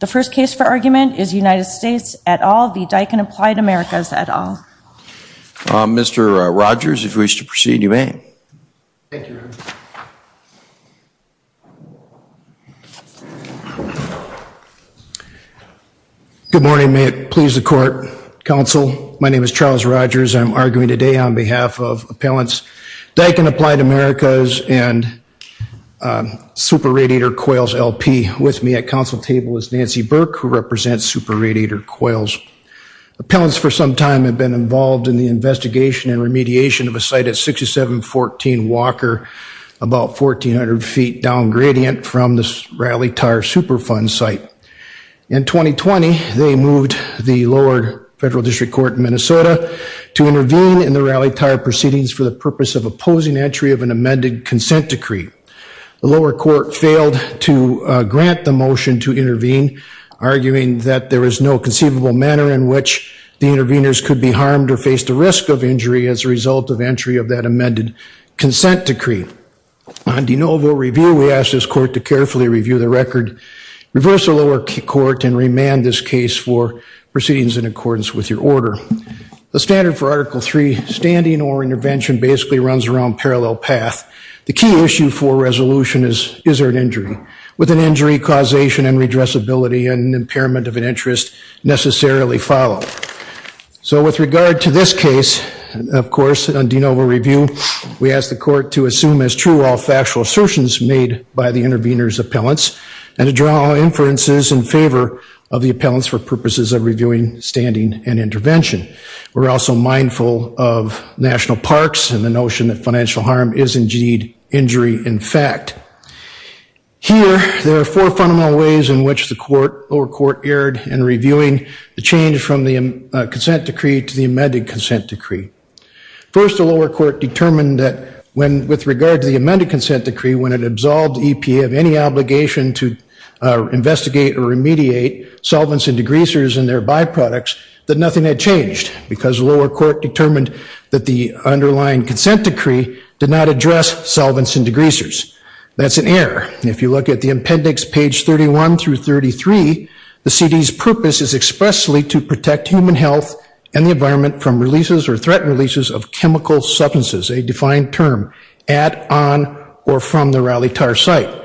The first case for argument is United States et al v. Daikin Applied Americas et al. Mr. Rogers, if you wish to proceed, you may. Good morning. May it please the court. Counsel, my name is Charles Rogers. I'm arguing today on behalf of Appellants Daikin Applied Americas and Super Radiator Coils LP. With me at counsel is Nancy Burke, who represents Super Radiator Coils. Appellants for some time have been involved in the investigation and remediation of a site at 6714 Walker, about 1,400 feet down gradient from the Rally Tire Superfund site. In 2020, they moved the lower federal district court in Minnesota to intervene in the Rally Tire proceedings for the purpose of opposing entry of an amended consent decree. The lower court failed to grant the motion to intervene, arguing that there is no conceivable manner in which the interveners could be harmed or face the risk of injury as a result of entry of that amended consent decree. On de novo review, we ask this court to carefully review the record, reverse the lower court, and remand this case for proceedings in accordance with your order. The standard for Article III standing or intervention basically runs around parallel path. The key issue for resolution is, is there an injury? With an injury, causation and redressability and impairment of an interest necessarily follow. So with regard to this case, of course, on de novo review, we ask the court to assume as true all factual assertions made by the interveners appellants, and to draw inferences in favor of the appellants for purposes of reviewing standing and intervention. We're also mindful of national parks and the notion that financial harm is indeed injury in fact. Here, there are four fundamental ways in which the lower court erred in reviewing the change from the consent decree to the amended consent decree. First, the lower court determined that when with regard to the amended consent decree, when it absolved EPA of any obligation to nothing had changed because the lower court determined that the underlying consent decree did not address solvents and degreasers. That's an error. If you look at the appendix page 31 through 33, the CD's purpose is expressly to protect human health and the environment from releases or threatened releases of chemical substances, a defined term, at, on, or from the Rally Tar site.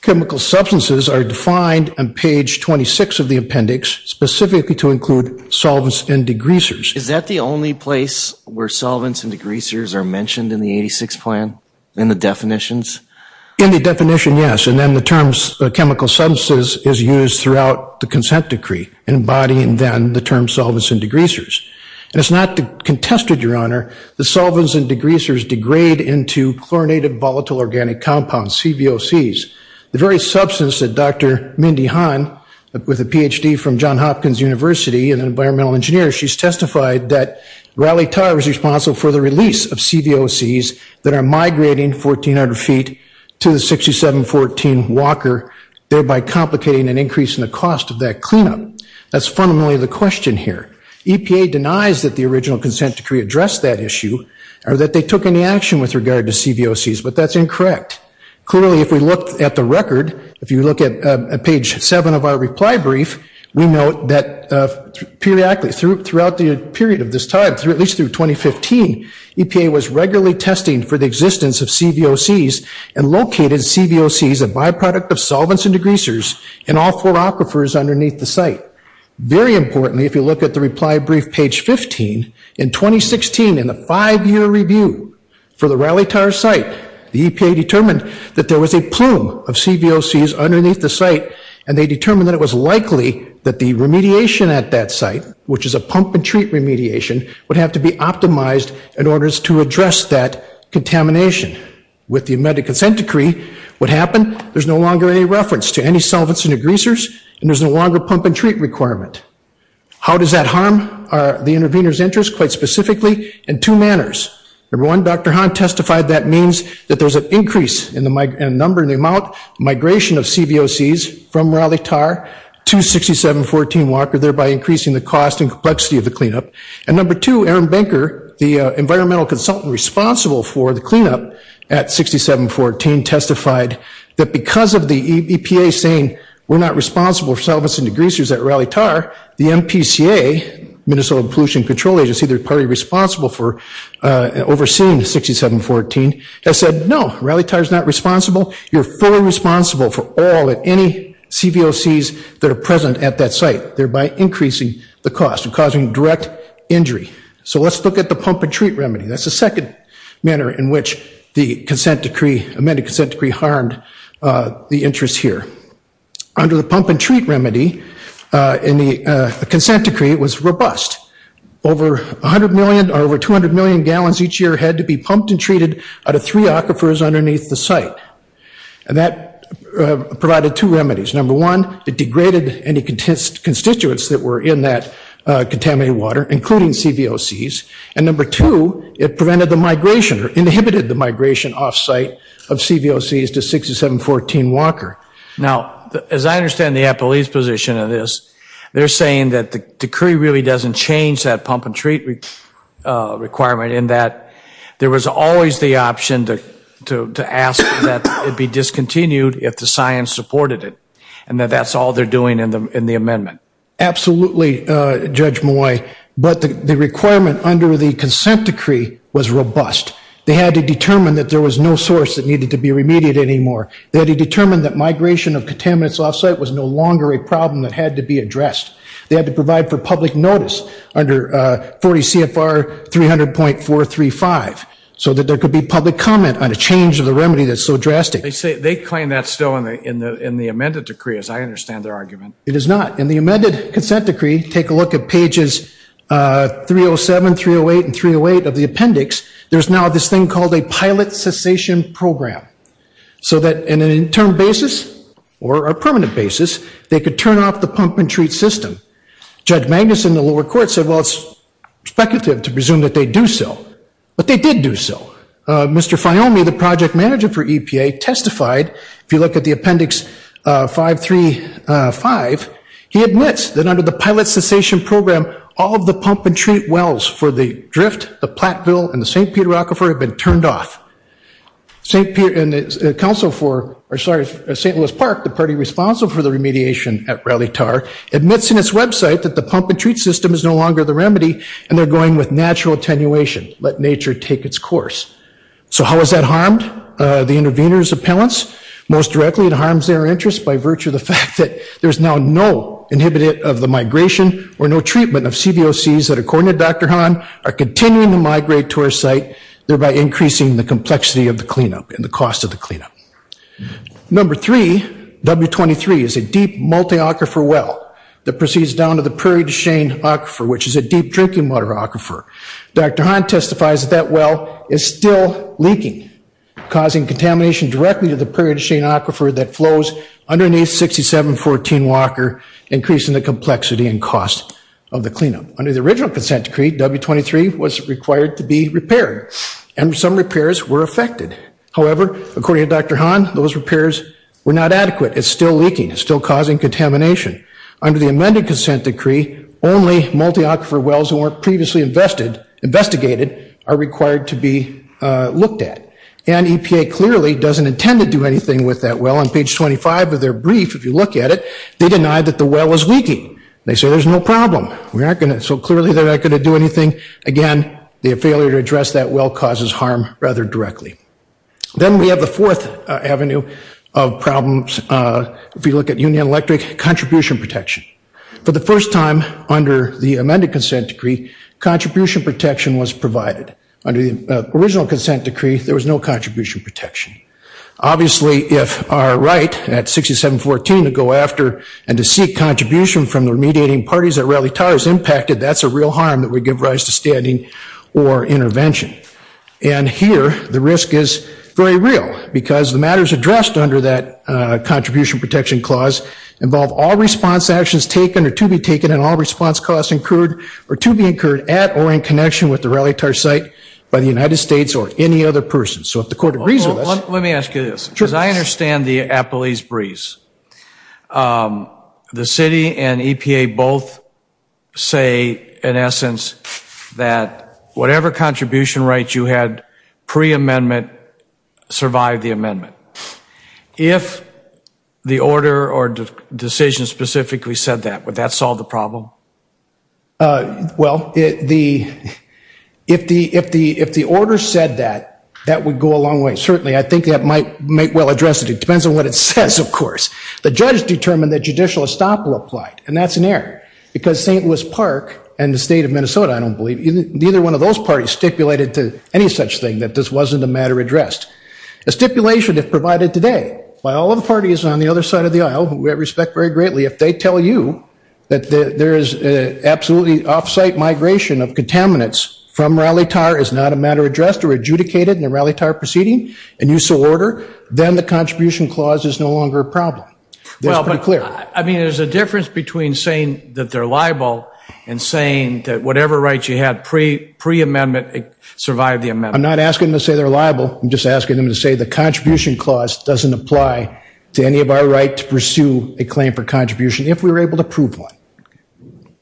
Chemical substances are defined on page 26 of the appendix, specifically to include solvents and degreasers. Is that the only place where solvents and degreasers are mentioned in the 86 plan, in the definitions? In the definition, yes, and then the terms chemical substances is used throughout the consent decree, embodying then the term solvents and degreasers. And it's not contested, your honor, that solvents and degreasers degrade into chlorinated volatile organic compounds, CVOCs. The very substance that Dr. Mindy Han, with a PhD from John Hopkins University, an environmental engineer, she's testified that Rally Tar is responsible for the release of CVOCs that are migrating 1,400 feet to the 6714 Walker, thereby complicating an increase in the cost of that cleanup. That's fundamentally the question here. EPA denies that the original consent decree addressed that issue, or that they took any action with regard to CVOCs, but that's incorrect. Clearly, if we look at the record, if you look at page seven of our reply brief, we note that periodically throughout the period of this time, through at least through 2015, EPA was regularly testing for the existence of CVOCs and located CVOCs, a byproduct of solvents and degreasers, in all four aquifers underneath the site. Very importantly, if you look at the reply brief page 15, in 2016, in the five-year review for the Rally Tar site, the EPA determined that there was a plume of CVOCs underneath the site, and they determined that it was likely that the remediation at that site, which is a pump-and-treat remediation, would have to be optimized in order to address that contamination. With the amended consent decree, what happened? There's no longer any reference to any solvents and degreasers, and there's no longer pump-and-treat requirement. How does that harm the intervener's interest? Quite specifically, in two manners. Number one, Dr. Hahn testified that means that there's an increase in the number, in the amount, migration of CVOCs from Rally Tar to 6714 Walker, thereby increasing the cost and complexity of the cleanup. And number two, Aaron Benker, the environmental consultant responsible for the cleanup at 6714 testified that because of the EPA saying, we're not responsible for solvents and degreasers at Rally Tar, the MPCA, Minnesota Pollution Control Agency, they're partly responsible for overseeing 6714, has said, no, Rally Tar is not responsible. You're fully responsible for all, if any, CVOCs that are present at that site, thereby increasing the cost and causing direct injury. So let's look at the the interest here. Under the pump-and-treat remedy, in the consent decree, it was robust. Over 100 million, or over 200 million gallons each year had to be pumped and treated out of three aquifers underneath the site. And that provided two remedies. Number one, it degraded any constituents that were in that contaminated water, including CVOCs. And number two, it inhibited the migration off-site of CVOCs to 6714 Walker. Now, as I understand the APLE's position of this, they're saying that the decree really doesn't change that pump-and-treat requirement, in that there was always the option to ask that it be discontinued if the science supported it, and that that's all they're doing in the amendment. Absolutely, Judge Moye. But the They had to determine that there was no source that needed to be remedied anymore. They had to determine that migration of contaminants off-site was no longer a problem that had to be addressed. They had to provide for public notice under 40 CFR 300.435, so that there could be public comment on a change of the remedy that's so drastic. They claim that's still in the amended decree, as I understand their argument. It is not. In the amended consent decree, take a look at pages 307, 308, and 308 of the appendix. There's now this thing called a pilot cessation program, so that in an interim basis or a permanent basis, they could turn off the pump-and-treat system. Judge Magnus in the lower court said, well, it's speculative to presume that they'd do so, but they did do so. Mr. Fiomi, the project manager for EPA, testified. If you look at the appendix 535, he admits that under the pilot cessation program, all of the pump-and-treat wells for the drift, the Platteville, and the St. Peter Aquifer have been turned off. St. Louis Park, the party responsible for the remediation at Rally Tar, admits in its website that the pump-and-treat system is no longer the remedy, and they're going with natural attenuation. Let nature take its course. So how is that harmed? The intervener's appellants? Most directly, it harms their interests by virtue of the fact that there's now no inhibitor of the migration or no treatment of CVOCs that, according to Dr. Hahn, are continuing to migrate to our site, thereby increasing the complexity of the cleanup and the cost of the cleanup. Number three, W23, is a deep multi-aquifer well that proceeds down to the Prairie du Chien aquifer, which is a deep drinking water aquifer. Dr. Hahn testifies that that well is still leaking, causing contamination directly to the Prairie du Chien aquifer that flows underneath 6714 Walker, increasing the complexity and cost of the cleanup. Under the original consent decree, W23 was required to be repaired, and some repairs were affected. However, according to Dr. Hahn, those repairs were not adequate. It's still leaking. It's still causing contamination. Under the amended consent decree, only multi-aquifer wells that weren't previously investigated are required to be looked at, and EPA clearly doesn't intend to do anything with that well. On page 25 of their brief, if you look at it, they deny that the well was leaking. They say there's no problem. We're not going to, so clearly they're not going to do anything. Again, the failure to address that well causes harm rather directly. Then we have the fourth avenue of problems. If you look at Union Electric, contribution protection. For the first time under the amended consent decree, contribution protection was provided. Under the original consent decree, there was no contribution protection. Obviously, if our right at 6714 to go after and to seek contribution from the remediating parties at Raleigh Towers impacted, that's a real harm that would give rise to standing or intervention. Here, the risk is very real because the matters addressed under that contribution protection clause involve all response actions taken or to be taken and all response costs incurred or to be incurred at or in connection with the Raleigh Towers site by the United States or any other person. So, if the court agrees with us. Let me ask you this. Sure. Because I understand the Appalachian breeze. The city and EPA both say, in essence, that whatever contribution rights you had pre-amendment survived the amendment. If the order or decision specifically said that, would that solve the problem? Well, if the order said that, that would go a long way. Certainly, I think that might well address it. It depends on what it says, of course. The judge determined that judicial estoppel applied and that's an error because St. Louis Park and the state of Minnesota, I don't believe, neither one of those parties stipulated to any such thing that this wasn't a matter addressed. A stipulation, if provided today, by all of the parties on the other side of the aisle, who I respect very greatly, if they tell you that there is absolutely off-site migration of contaminants from Raleigh Tower is not a matter addressed or adjudicated in a Raleigh Tower proceeding and use of order, then the contribution clause is no longer a problem. Well, I mean, there's a difference between saying that they're liable and saying that whatever rights you had pre-amendment survived the amendment. I'm not asking them to say they're liable. I'm just asking them to say the contribution clause doesn't apply to any of our right to pursue a claim for contribution if we were able to prove one.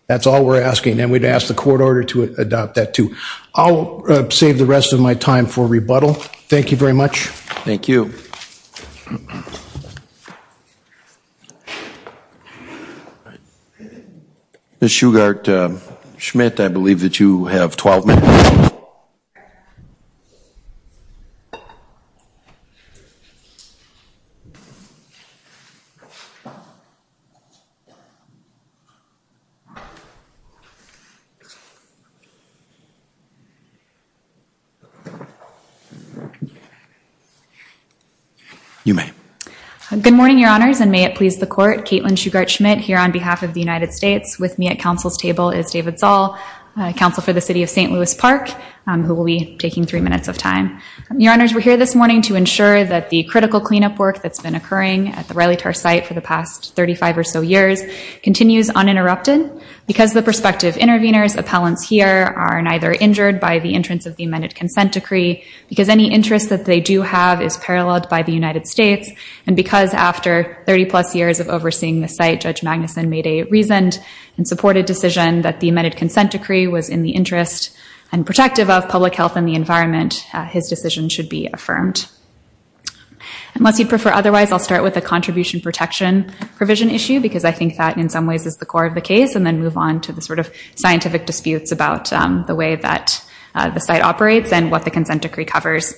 That's all we're asking and we'd ask the court order to adopt that too. I'll save the rest of my time for rebuttal. Thank you very much. Thank you. All right. Ms. Shugart-Schmidt, I believe that you have 12 minutes. You may. Good morning, Your Honors, and may it please the court, Caitlin Shugart-Schmidt here on behalf of the United States. With me at council's table is David Zall, counsel for the City of St. Louis Park, who will be taking three minutes of time. Your Honors, we're here this morning to ensure that the critical cleanup work that's been occurring at the Raleigh Tower site for the past 35 or so years continues uninterrupted because the prospective intervenors appellants here are neither injured by the entrance of the amended consent decree, because any interest that they do have is paralleled by the United States, and because after 30-plus years of overseeing the site, Judge Magnuson made a reasoned and supported decision that the amended consent decree was in the interest and protective of public health and the environment. His decision should be affirmed. Unless you'd prefer otherwise, I'll start with a contribution protection provision issue because I think that in some ways is the core of the case, and then move on to the sort of scientific disputes about the way that the site operates and what the consent decree covers.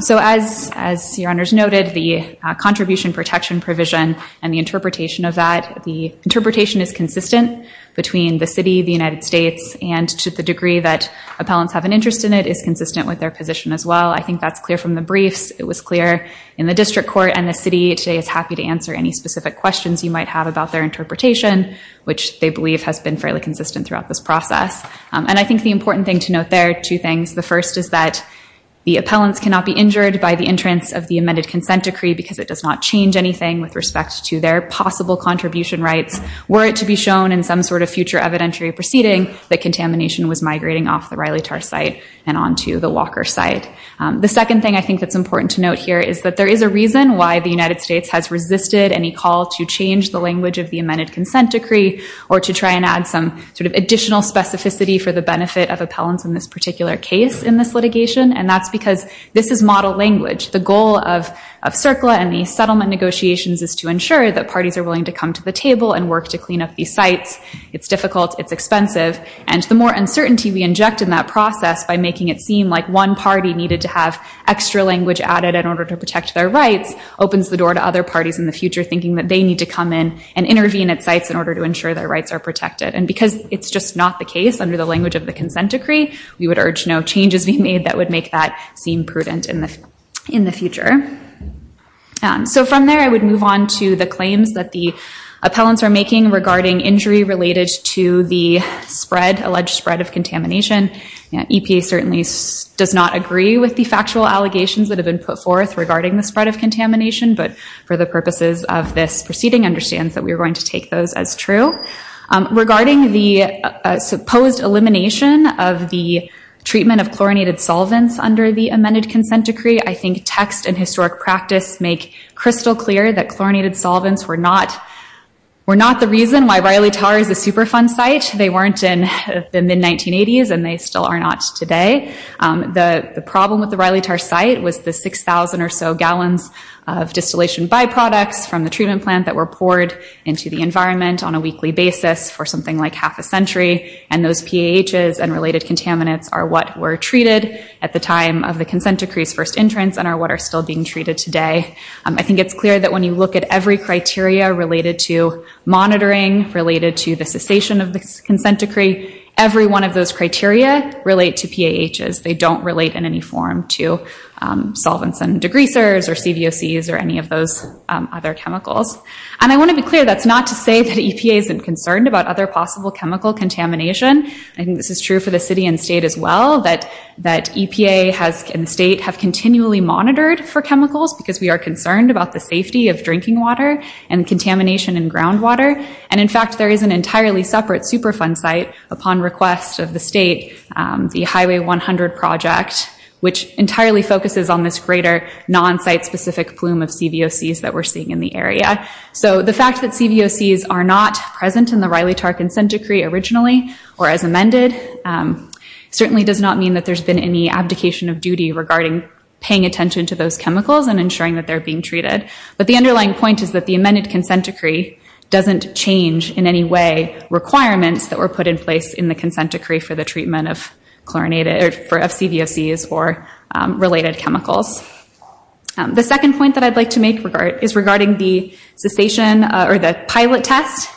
So as Your Honors noted, the contribution protection provision and the interpretation of that, the interpretation is consistent between the city, the United States, and to the degree that appellants have an interest in it is consistent with their position as well. I think that's clear from the briefs. It was clear in the district court and the city today is happy to answer any specific questions you might have about their interpretation, which they believe has been fairly consistent throughout this process. And I think the appellants cannot be injured by the entrance of the amended consent decree because it does not change anything with respect to their possible contribution rights were it to be shown in some sort of future evidentiary proceeding that contamination was migrating off the Reilly Tarr site and onto the Walker site. The second thing I think that's important to note here is that there is a reason why the United States has resisted any call to change the language of the amended consent decree or to try and add some sort of additional specificity for the benefit of appellants in this particular case in this litigation. And that's because this is model language. The goal of CERCLA and these settlement negotiations is to ensure that parties are willing to come to the table and work to clean up these sites. It's difficult. It's expensive. And the more uncertainty we inject in that process by making it seem like one party needed to have extra language added in order to protect their rights opens the door to other parties in the future thinking that they need to come in and intervene at sites in order to ensure their consent decree. We would urge no changes be made that would make that seem prudent in the future. So from there, I would move on to the claims that the appellants are making regarding injury related to the spread, alleged spread of contamination. EPA certainly does not agree with the factual allegations that have been put forth regarding the spread of contamination, but for the purposes of this proceeding understands that we are going to take those as true. Regarding the supposed elimination of the treatment of chlorinated solvents under the amended consent decree, I think text and historic practice make crystal clear that chlorinated solvents were not the reason why Reilly Tarr is a Superfund site. They weren't in the mid-1980s and they still are not today. The problem with the Reilly Tarr site was the 6,000 or so gallons of distillation byproducts from the treatment plant that were poured into the environment on a weekly basis for something like half a century, and those PAHs and related contaminants are what were treated at the time of the consent decree's first entrance and are what are still being treated today. I think it's clear that when you look at every criteria related to monitoring, related to the cessation of the consent decree, every one of those criteria relate to PAHs. They don't relate in any form to solvents and degreasers or CVOCs or any of those other chemicals. And I want to be clear that's not to say that EPA isn't concerned about other possible chemical contamination. I think this is true for the city and state as well, that EPA and the state have continually monitored for chemicals because we are concerned about the safety of drinking water and contamination in groundwater. And in fact, there is an entirely separate Superfund site upon request of the state, the Highway 100 project, which entirely focuses on this greater non-site-specific plume of CVOCs that we're seeing in the area. So the fact that CVOCs are not present in the Reilly-Tarr consent decree originally or as amended certainly does not mean that there's been any abdication of duty regarding paying attention to those chemicals and ensuring that they're being treated. But the underlying point is that the amended consent decree doesn't change in any way requirements that were put in in the consent decree for the treatment of CVOCs or related chemicals. The second point that I'd like to make is regarding the cessation or the pilot test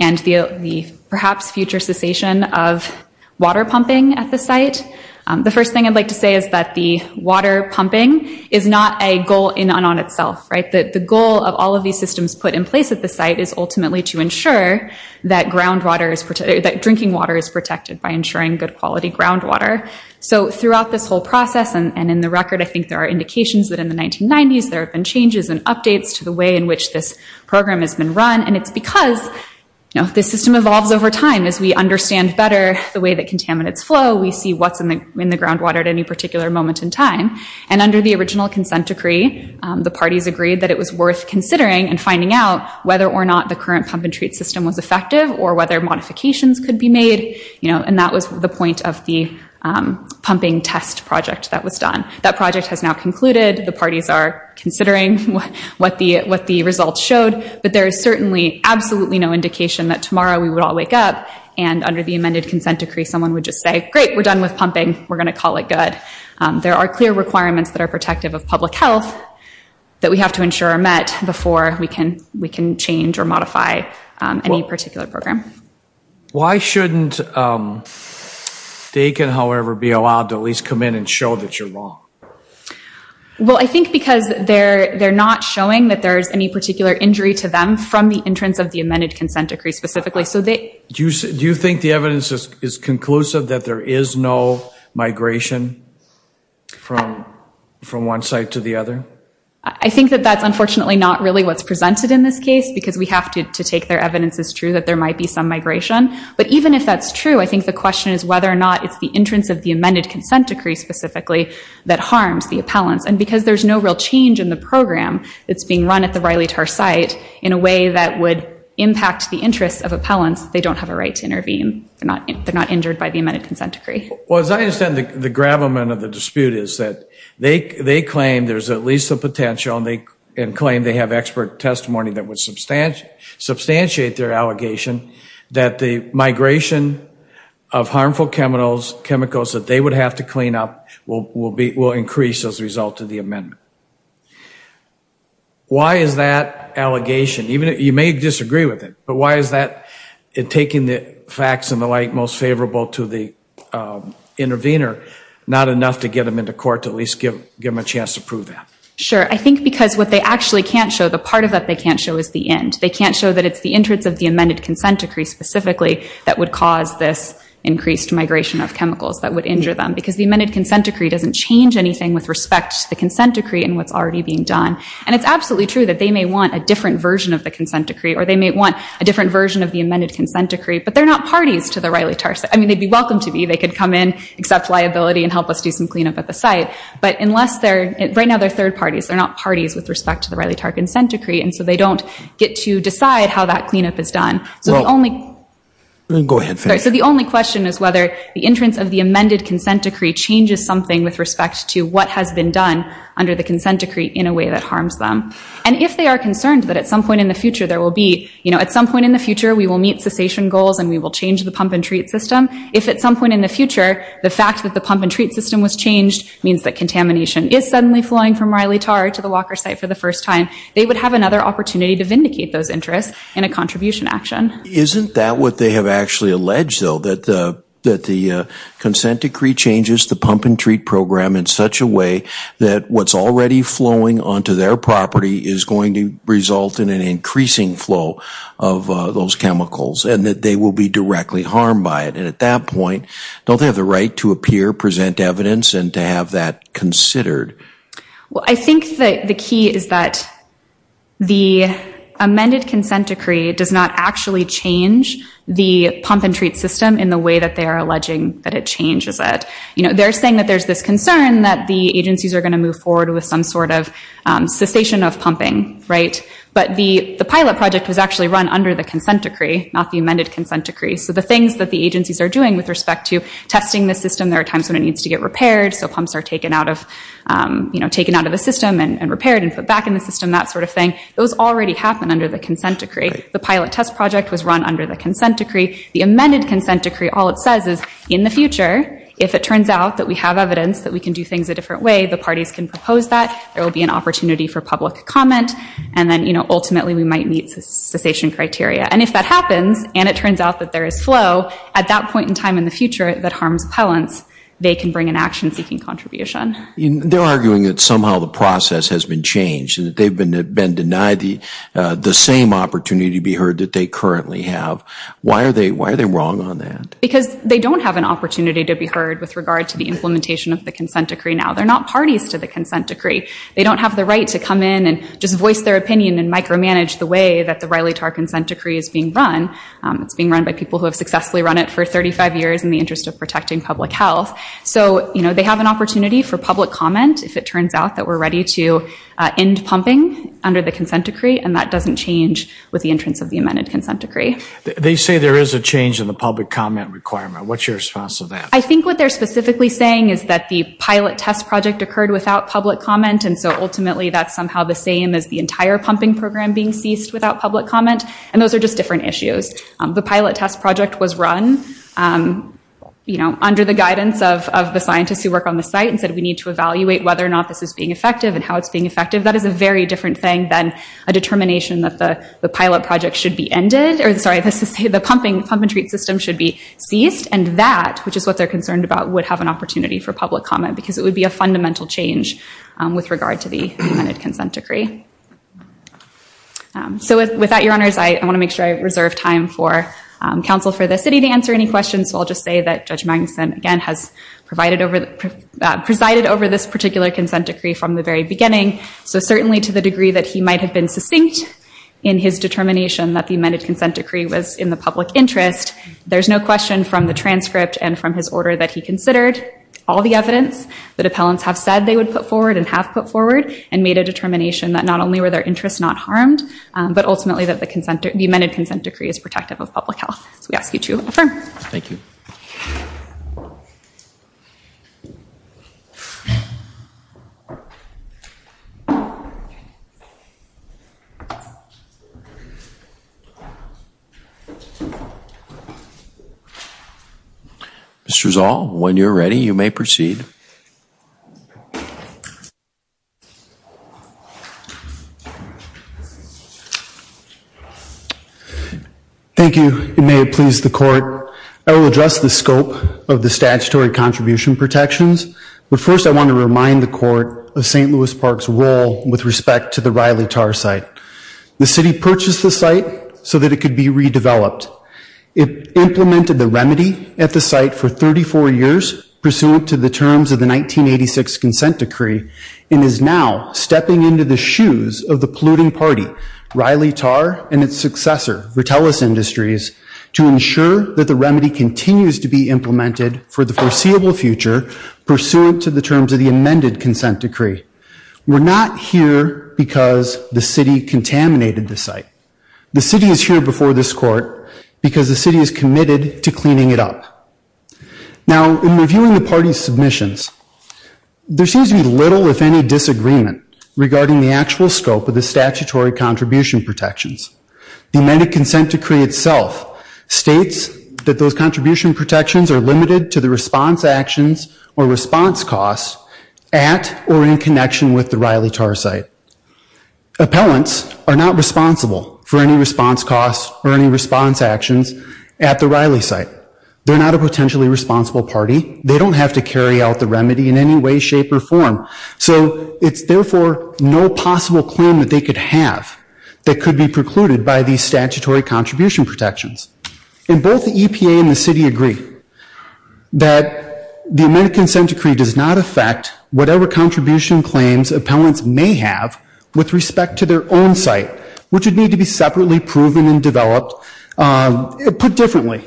and the perhaps future cessation of water pumping at the site. The first thing I'd like to say is that the water pumping is not a goal in and on itself, right? The goal of all of these systems put in place at the site is ultimately to ensure that drinking water is protected by ensuring good quality groundwater. So throughout this whole process and in the record, I think there are indications that in the 1990s there have been changes and updates to the way in which this program has been run. And it's because, you know, this system evolves over time as we understand better the way that contaminants flow, we see what's in the groundwater at any particular moment in time. And under the original consent decree, the parties agreed that it was worth considering and finding out whether or not the current pump and treat system was effective or whether modifications could be made, you know, and that was the point of the pumping test project that was done. That project has now concluded. The parties are considering what the results showed, but there is certainly absolutely no indication that tomorrow we would all wake up and under the amended consent decree someone would just say, great, we're done with pumping, we're going to call it good. There are clear requirements that are protective of public health that we have to ensure are met before we can change or modify any particular program. Why shouldn't they can, however, be allowed to at least come in and show that you're wrong? Well, I think because they're not showing that there's any particular injury to them from the entrance of the amended consent decree specifically. Do you think the evidence is conclusive that there is no migration from one site to the other? I think that that's unfortunately not really what's presented in this case, because we have to take their evidence as true that there might be some migration. But even if that's true, I think the question is whether or not it's the entrance of the amended consent decree specifically that harms the appellants. And because there's no real change in the program that's being run at the Reilly-Tarr site in a way that would impact the interests of appellants, they don't have a right to intervene. They're not injured by the amended consent decree. Well, as I understand, the gravamen of the dispute is that they claim there's at least a potential and claim they have expert testimony that would substantiate their allegation that the migration of harmful chemicals that they would have to clean up will increase as a result of the amendment. Why is that allegation, you may disagree with it, but why is that taking the facts and the like most favorable to the intervener not enough to get them into court to at least give them a chance to prove that? Sure. I think because what they actually can't show, the part of that they can't show is the end. They can't show that it's the entrance of the amended consent decree specifically that would cause this increased migration of chemicals that would injure them. Because the amended consent decree doesn't change anything with respect to the consent decree and what's already being done. And it's absolutely true that they may want a different version of the amended consent decree, but they're not parties to the Reilly-Tarr site. I mean, they'd be welcome to be. They could come in, accept liability, and help us do some cleanup at the site. But right now they're third parties. They're not parties with respect to the Reilly-Tarr consent decree. And so they don't get to decide how that cleanup is done. So the only question is whether the entrance of the amended consent decree changes something with respect to what has been done under the consent decree in a way that harms them. And if they are concerned that at some point in the future there will be, you know, at some point in the future we will meet cessation goals and we will change the pump and treat system. If at some point in the future the fact that the pump and treat system was changed means that contamination is suddenly flowing from Reilly-Tarr to the Walker site for the first time, they would have another opportunity to vindicate those interests in a contribution action. Isn't that what they have actually alleged though? That the consent decree changes the pump and treat program in such a way that what's already flowing onto their property is going to result in an increasing flow of those chemicals and that they will be directly harmed by it. And at that point, don't they have the right to appear, present evidence, and to have that considered? Well, I think that the key is that the amended consent decree does not actually change the pump and treat system in the way that they are alleging that it changes it. You know, they're saying that there's this concern that the agencies are going to move forward with some sort of cessation of pumping, right? But the pilot project was actually run under the consent decree, not the amended consent decree. So the things that the agencies are doing with respect to testing the system, there are times when it needs to get repaired, so pumps are taken out of, you know, taken out of the system and repaired and put back in the system, that sort of thing. Those already happen under the consent decree. The pilot test project was run under the consent decree. The amended consent decree, all it says is in the future, if it turns out that we have there will be an opportunity for public comment, and then, you know, ultimately we might meet cessation criteria. And if that happens, and it turns out that there is flow, at that point in time in the future that harms pellants, they can bring an action-seeking contribution. They're arguing that somehow the process has been changed and that they've been denied the same opportunity to be heard that they currently have. Why are they wrong on that? Because they don't have an opportunity to be heard with regard to the implementation of the consent decree. They don't have the right to come in and just voice their opinion and micromanage the way that the Riley-Tarr consent decree is being run. It's being run by people who have successfully run it for 35 years in the interest of protecting public health. So, you know, they have an opportunity for public comment if it turns out that we're ready to end pumping under the consent decree, and that doesn't change with the entrance of the amended consent decree. They say there is a change in the public comment requirement. What's your response to that? I think what they're specifically saying is that the pilot test project occurred without public comment, and so ultimately that's somehow the same as the entire pumping program being ceased without public comment, and those are just different issues. The pilot test project was run under the guidance of the scientists who work on the site and said we need to evaluate whether or not this is being effective and how it's being effective. That is a very different thing than a determination that the pilot project should be ended, or sorry, the pumping treat system should be ceased, and that, which is what they're concerned about, would have an opportunity for public comment because it would be a fundamental change with regard to the amended consent decree. So with that, your honors, I want to make sure I reserve time for counsel for the city to answer any questions. So I'll just say that Judge Magnuson, again, has presided over this particular consent decree from the very beginning, so certainly to the degree that he might have been succinct in his determination that the amended consent decree was in the public interest, there's no question from the transcript and from his order that he considered all the evidence that appellants have said they would put forward and have put forward and made a determination that not only were their interests not harmed, but ultimately that the consent, the amended consent decree is protective of public health. So we ask you to affirm. Thank you. Thank you. Mr. Zoll, when you're ready, you may proceed. Thank you. It may have pleased the court. I will address the scope of the statutory contribution protections, but first I want to remind the court of St. Louis Park's role with respect to the Riley Tar Site. The city purchased the site so that it could be redeveloped. It implemented the remedy at the site for 34 years, pursuant to the terms of the 1986 consent decree, and is now stepping into the shoes of the polluting party, Riley Tar, and its successor, Vertelis Industries, to ensure that the remedy continues to be implemented for the foreseeable future, pursuant to the terms of the amended consent decree. We're not here because the city is committed to cleaning it up. Now, in reviewing the party's submissions, there seems to be little, if any, disagreement regarding the actual scope of the statutory contribution protections. The amended consent decree itself states that those contribution protections are limited to the response actions or response costs at or in connection with the Riley site. They're not a potentially responsible party. They don't have to carry out the remedy in any way, shape, or form. So it's therefore no possible claim that they could have that could be precluded by these statutory contribution protections. And both the EPA and the city agree that the amended consent decree does not affect whatever contribution claims appellants may have with respect to their own site, which would need to be separately proven and developed, put differently.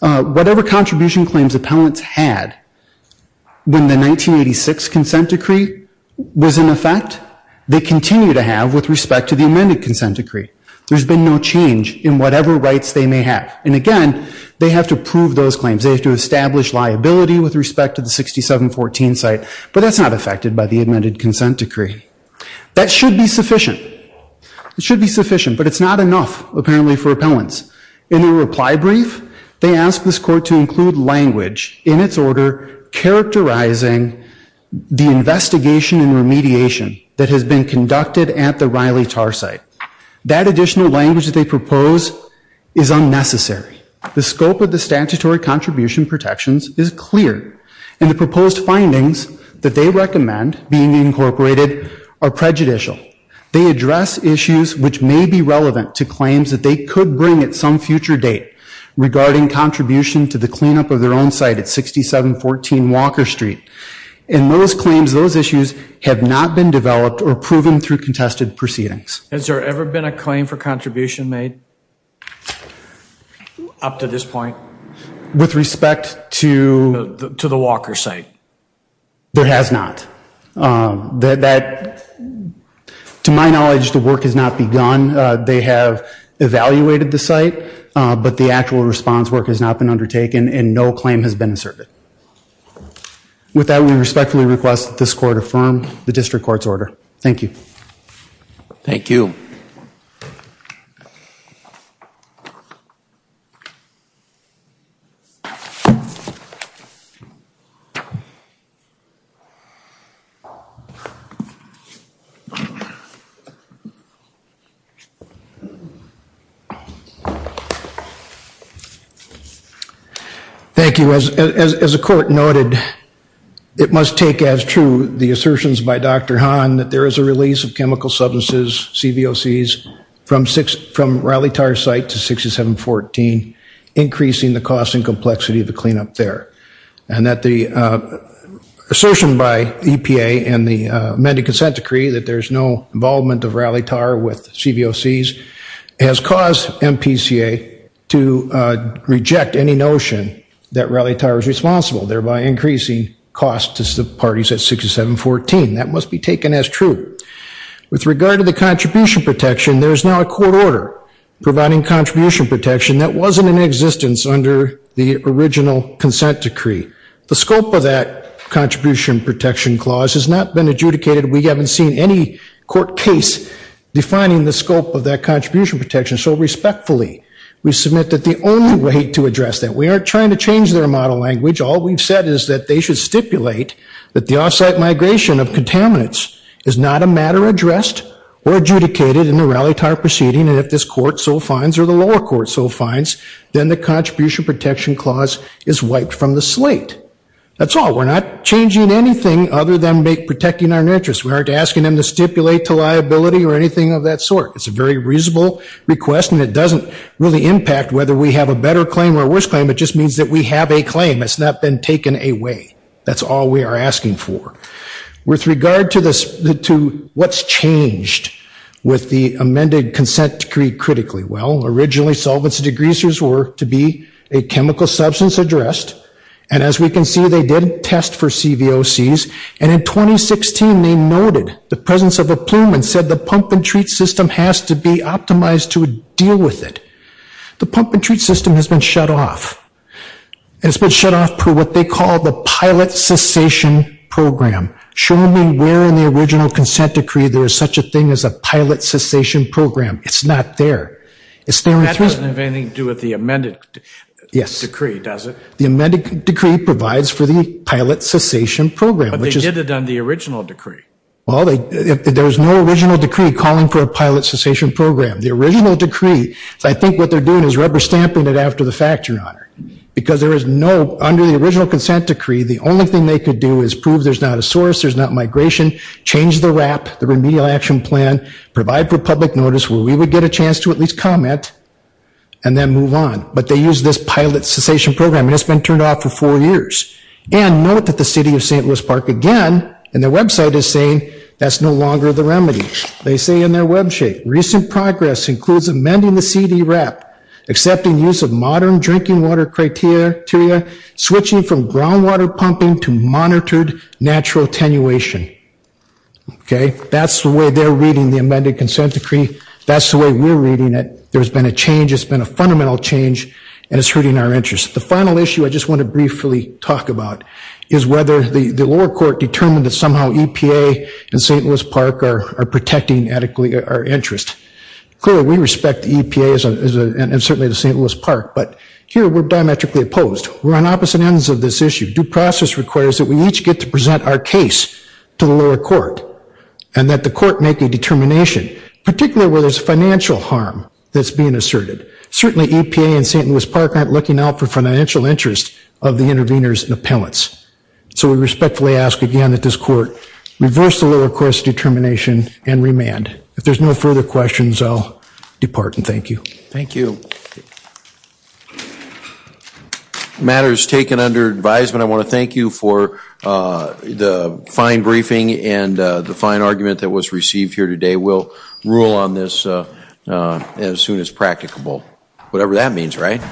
Whatever contribution claims appellants had when the 1986 consent decree was in effect, they continue to have with respect to the amended consent decree. There's been no change in whatever rights they may have. And again, they have to prove those claims. They have to establish liability with respect to the 6714 site, but that's not affected by the amended consent decree. That should be sufficient. It should be sufficient, but it's not enough, apparently, for appellants. In the reply brief, they ask this court to include language in its order characterizing the investigation and remediation that has been conducted at the Riley tar site. That additional language that they propose is unnecessary. The scope of the statutory contribution protections is clear, and the proposed findings that they recommend being incorporated are prejudicial. They address issues which may be relevant to claims that they could bring at some future date regarding contribution to the cleanup of their own site at 6714 Walker Street. In those claims, those issues have not been developed or proven through contested proceedings. Has there ever been a claim for contribution made up to this point? With respect to the Walker site? There has not. To my knowledge, the work has not begun. They have evaluated the site, but the actual response work has not been undertaken, and no claim has been asserted. With that, we respectfully request that this court affirm the district Thank you. As the court noted, it must take as true the assertions by Dr. Hahn that there is a there, and that the assertion by EPA and the amended consent decree that there is no involvement of Riley tar with CVOCs has caused MPCA to reject any notion that Riley tar is responsible, thereby increasing cost to parties at 6714. That must be taken as true. With regard to the contribution protection, there is now a court order providing contribution protection that wasn't in existence under the original consent decree. The scope of that contribution protection clause has not been adjudicated. We haven't seen any court case defining the scope of that contribution protection, so respectfully, we submit that the only way to address that, we aren't trying to change their model language. All we've said is that they should stipulate that the off-site migration of contaminants is not a matter addressed or adjudicated in the Riley tar proceeding, and if this court so finds or the lower court so finds, then the contribution protection clause is wiped from the slate. That's all. We're not changing anything other than protecting our interests. We aren't asking them to stipulate to liability or anything of that sort. It's a very reasonable request, and it doesn't really impact whether we have a better claim or a worse claim. It just means that we have a claim. It's not been taken away. That's all we are asking for. With regard to what's changed with the amended consent decree critically, well, originally, solvents and degreasers were to be a chemical substance addressed, and as we can see, they did test for CVOCs, and in 2016, they noted the presence of a plume and said the pump and treat system has to be optimized to deal with it. The pump and treat system has been shut off. It's been shut off for what they call the pilot cessation program. Show me where in the original consent decree there is such a thing as a pilot cessation program. It's not there. That doesn't have anything to do with the amended decree, does it? The amended decree provides for the pilot cessation program. But they did it on the original decree. Well, there's no original decree calling for a pilot cessation program. The original decree, I think what they're doing is rubber stamping it after the fact, Your Honor, because there is no, under the original consent decree, the only thing they could do is prove there's not a source, there's not migration, change the wrap, the remedial action plan, provide for public notice where we would get a chance to at least comment, and then move on. But they used this pilot cessation program, and it's been turned off for four years. And note that the City of St. Louis Park, again, in their website is saying that's no longer the CD wrap, accepting use of modern drinking water criteria, switching from groundwater pumping to monitored natural attenuation. That's the way they're reading the amended consent decree. That's the way we're reading it. There's been a change, it's been a fundamental change, and it's hurting our interest. The final issue I just want to briefly talk about is whether the lower court determined that somehow EPA and St. Louis Park are protecting adequately our interest. Clearly we respect the EPA and certainly the St. Louis Park, but here we're diametrically opposed. We're on opposite ends of this issue. Due process requires that we each get to present our case to the lower court, and that the court make a determination, particularly where there's financial harm that's being asserted. Certainly EPA and St. Louis Park aren't looking out for financial interest of the interveners and appellants. So we respectfully ask again that this court reverse the lower court's determination and remand. If there's no further questions, I'll depart and thank you. Thank you. Matter is taken under advisement. I want to thank you for the fine briefing and the fine argument that was received here today. We'll rule on this as soon as practicable. Whatever that means, right?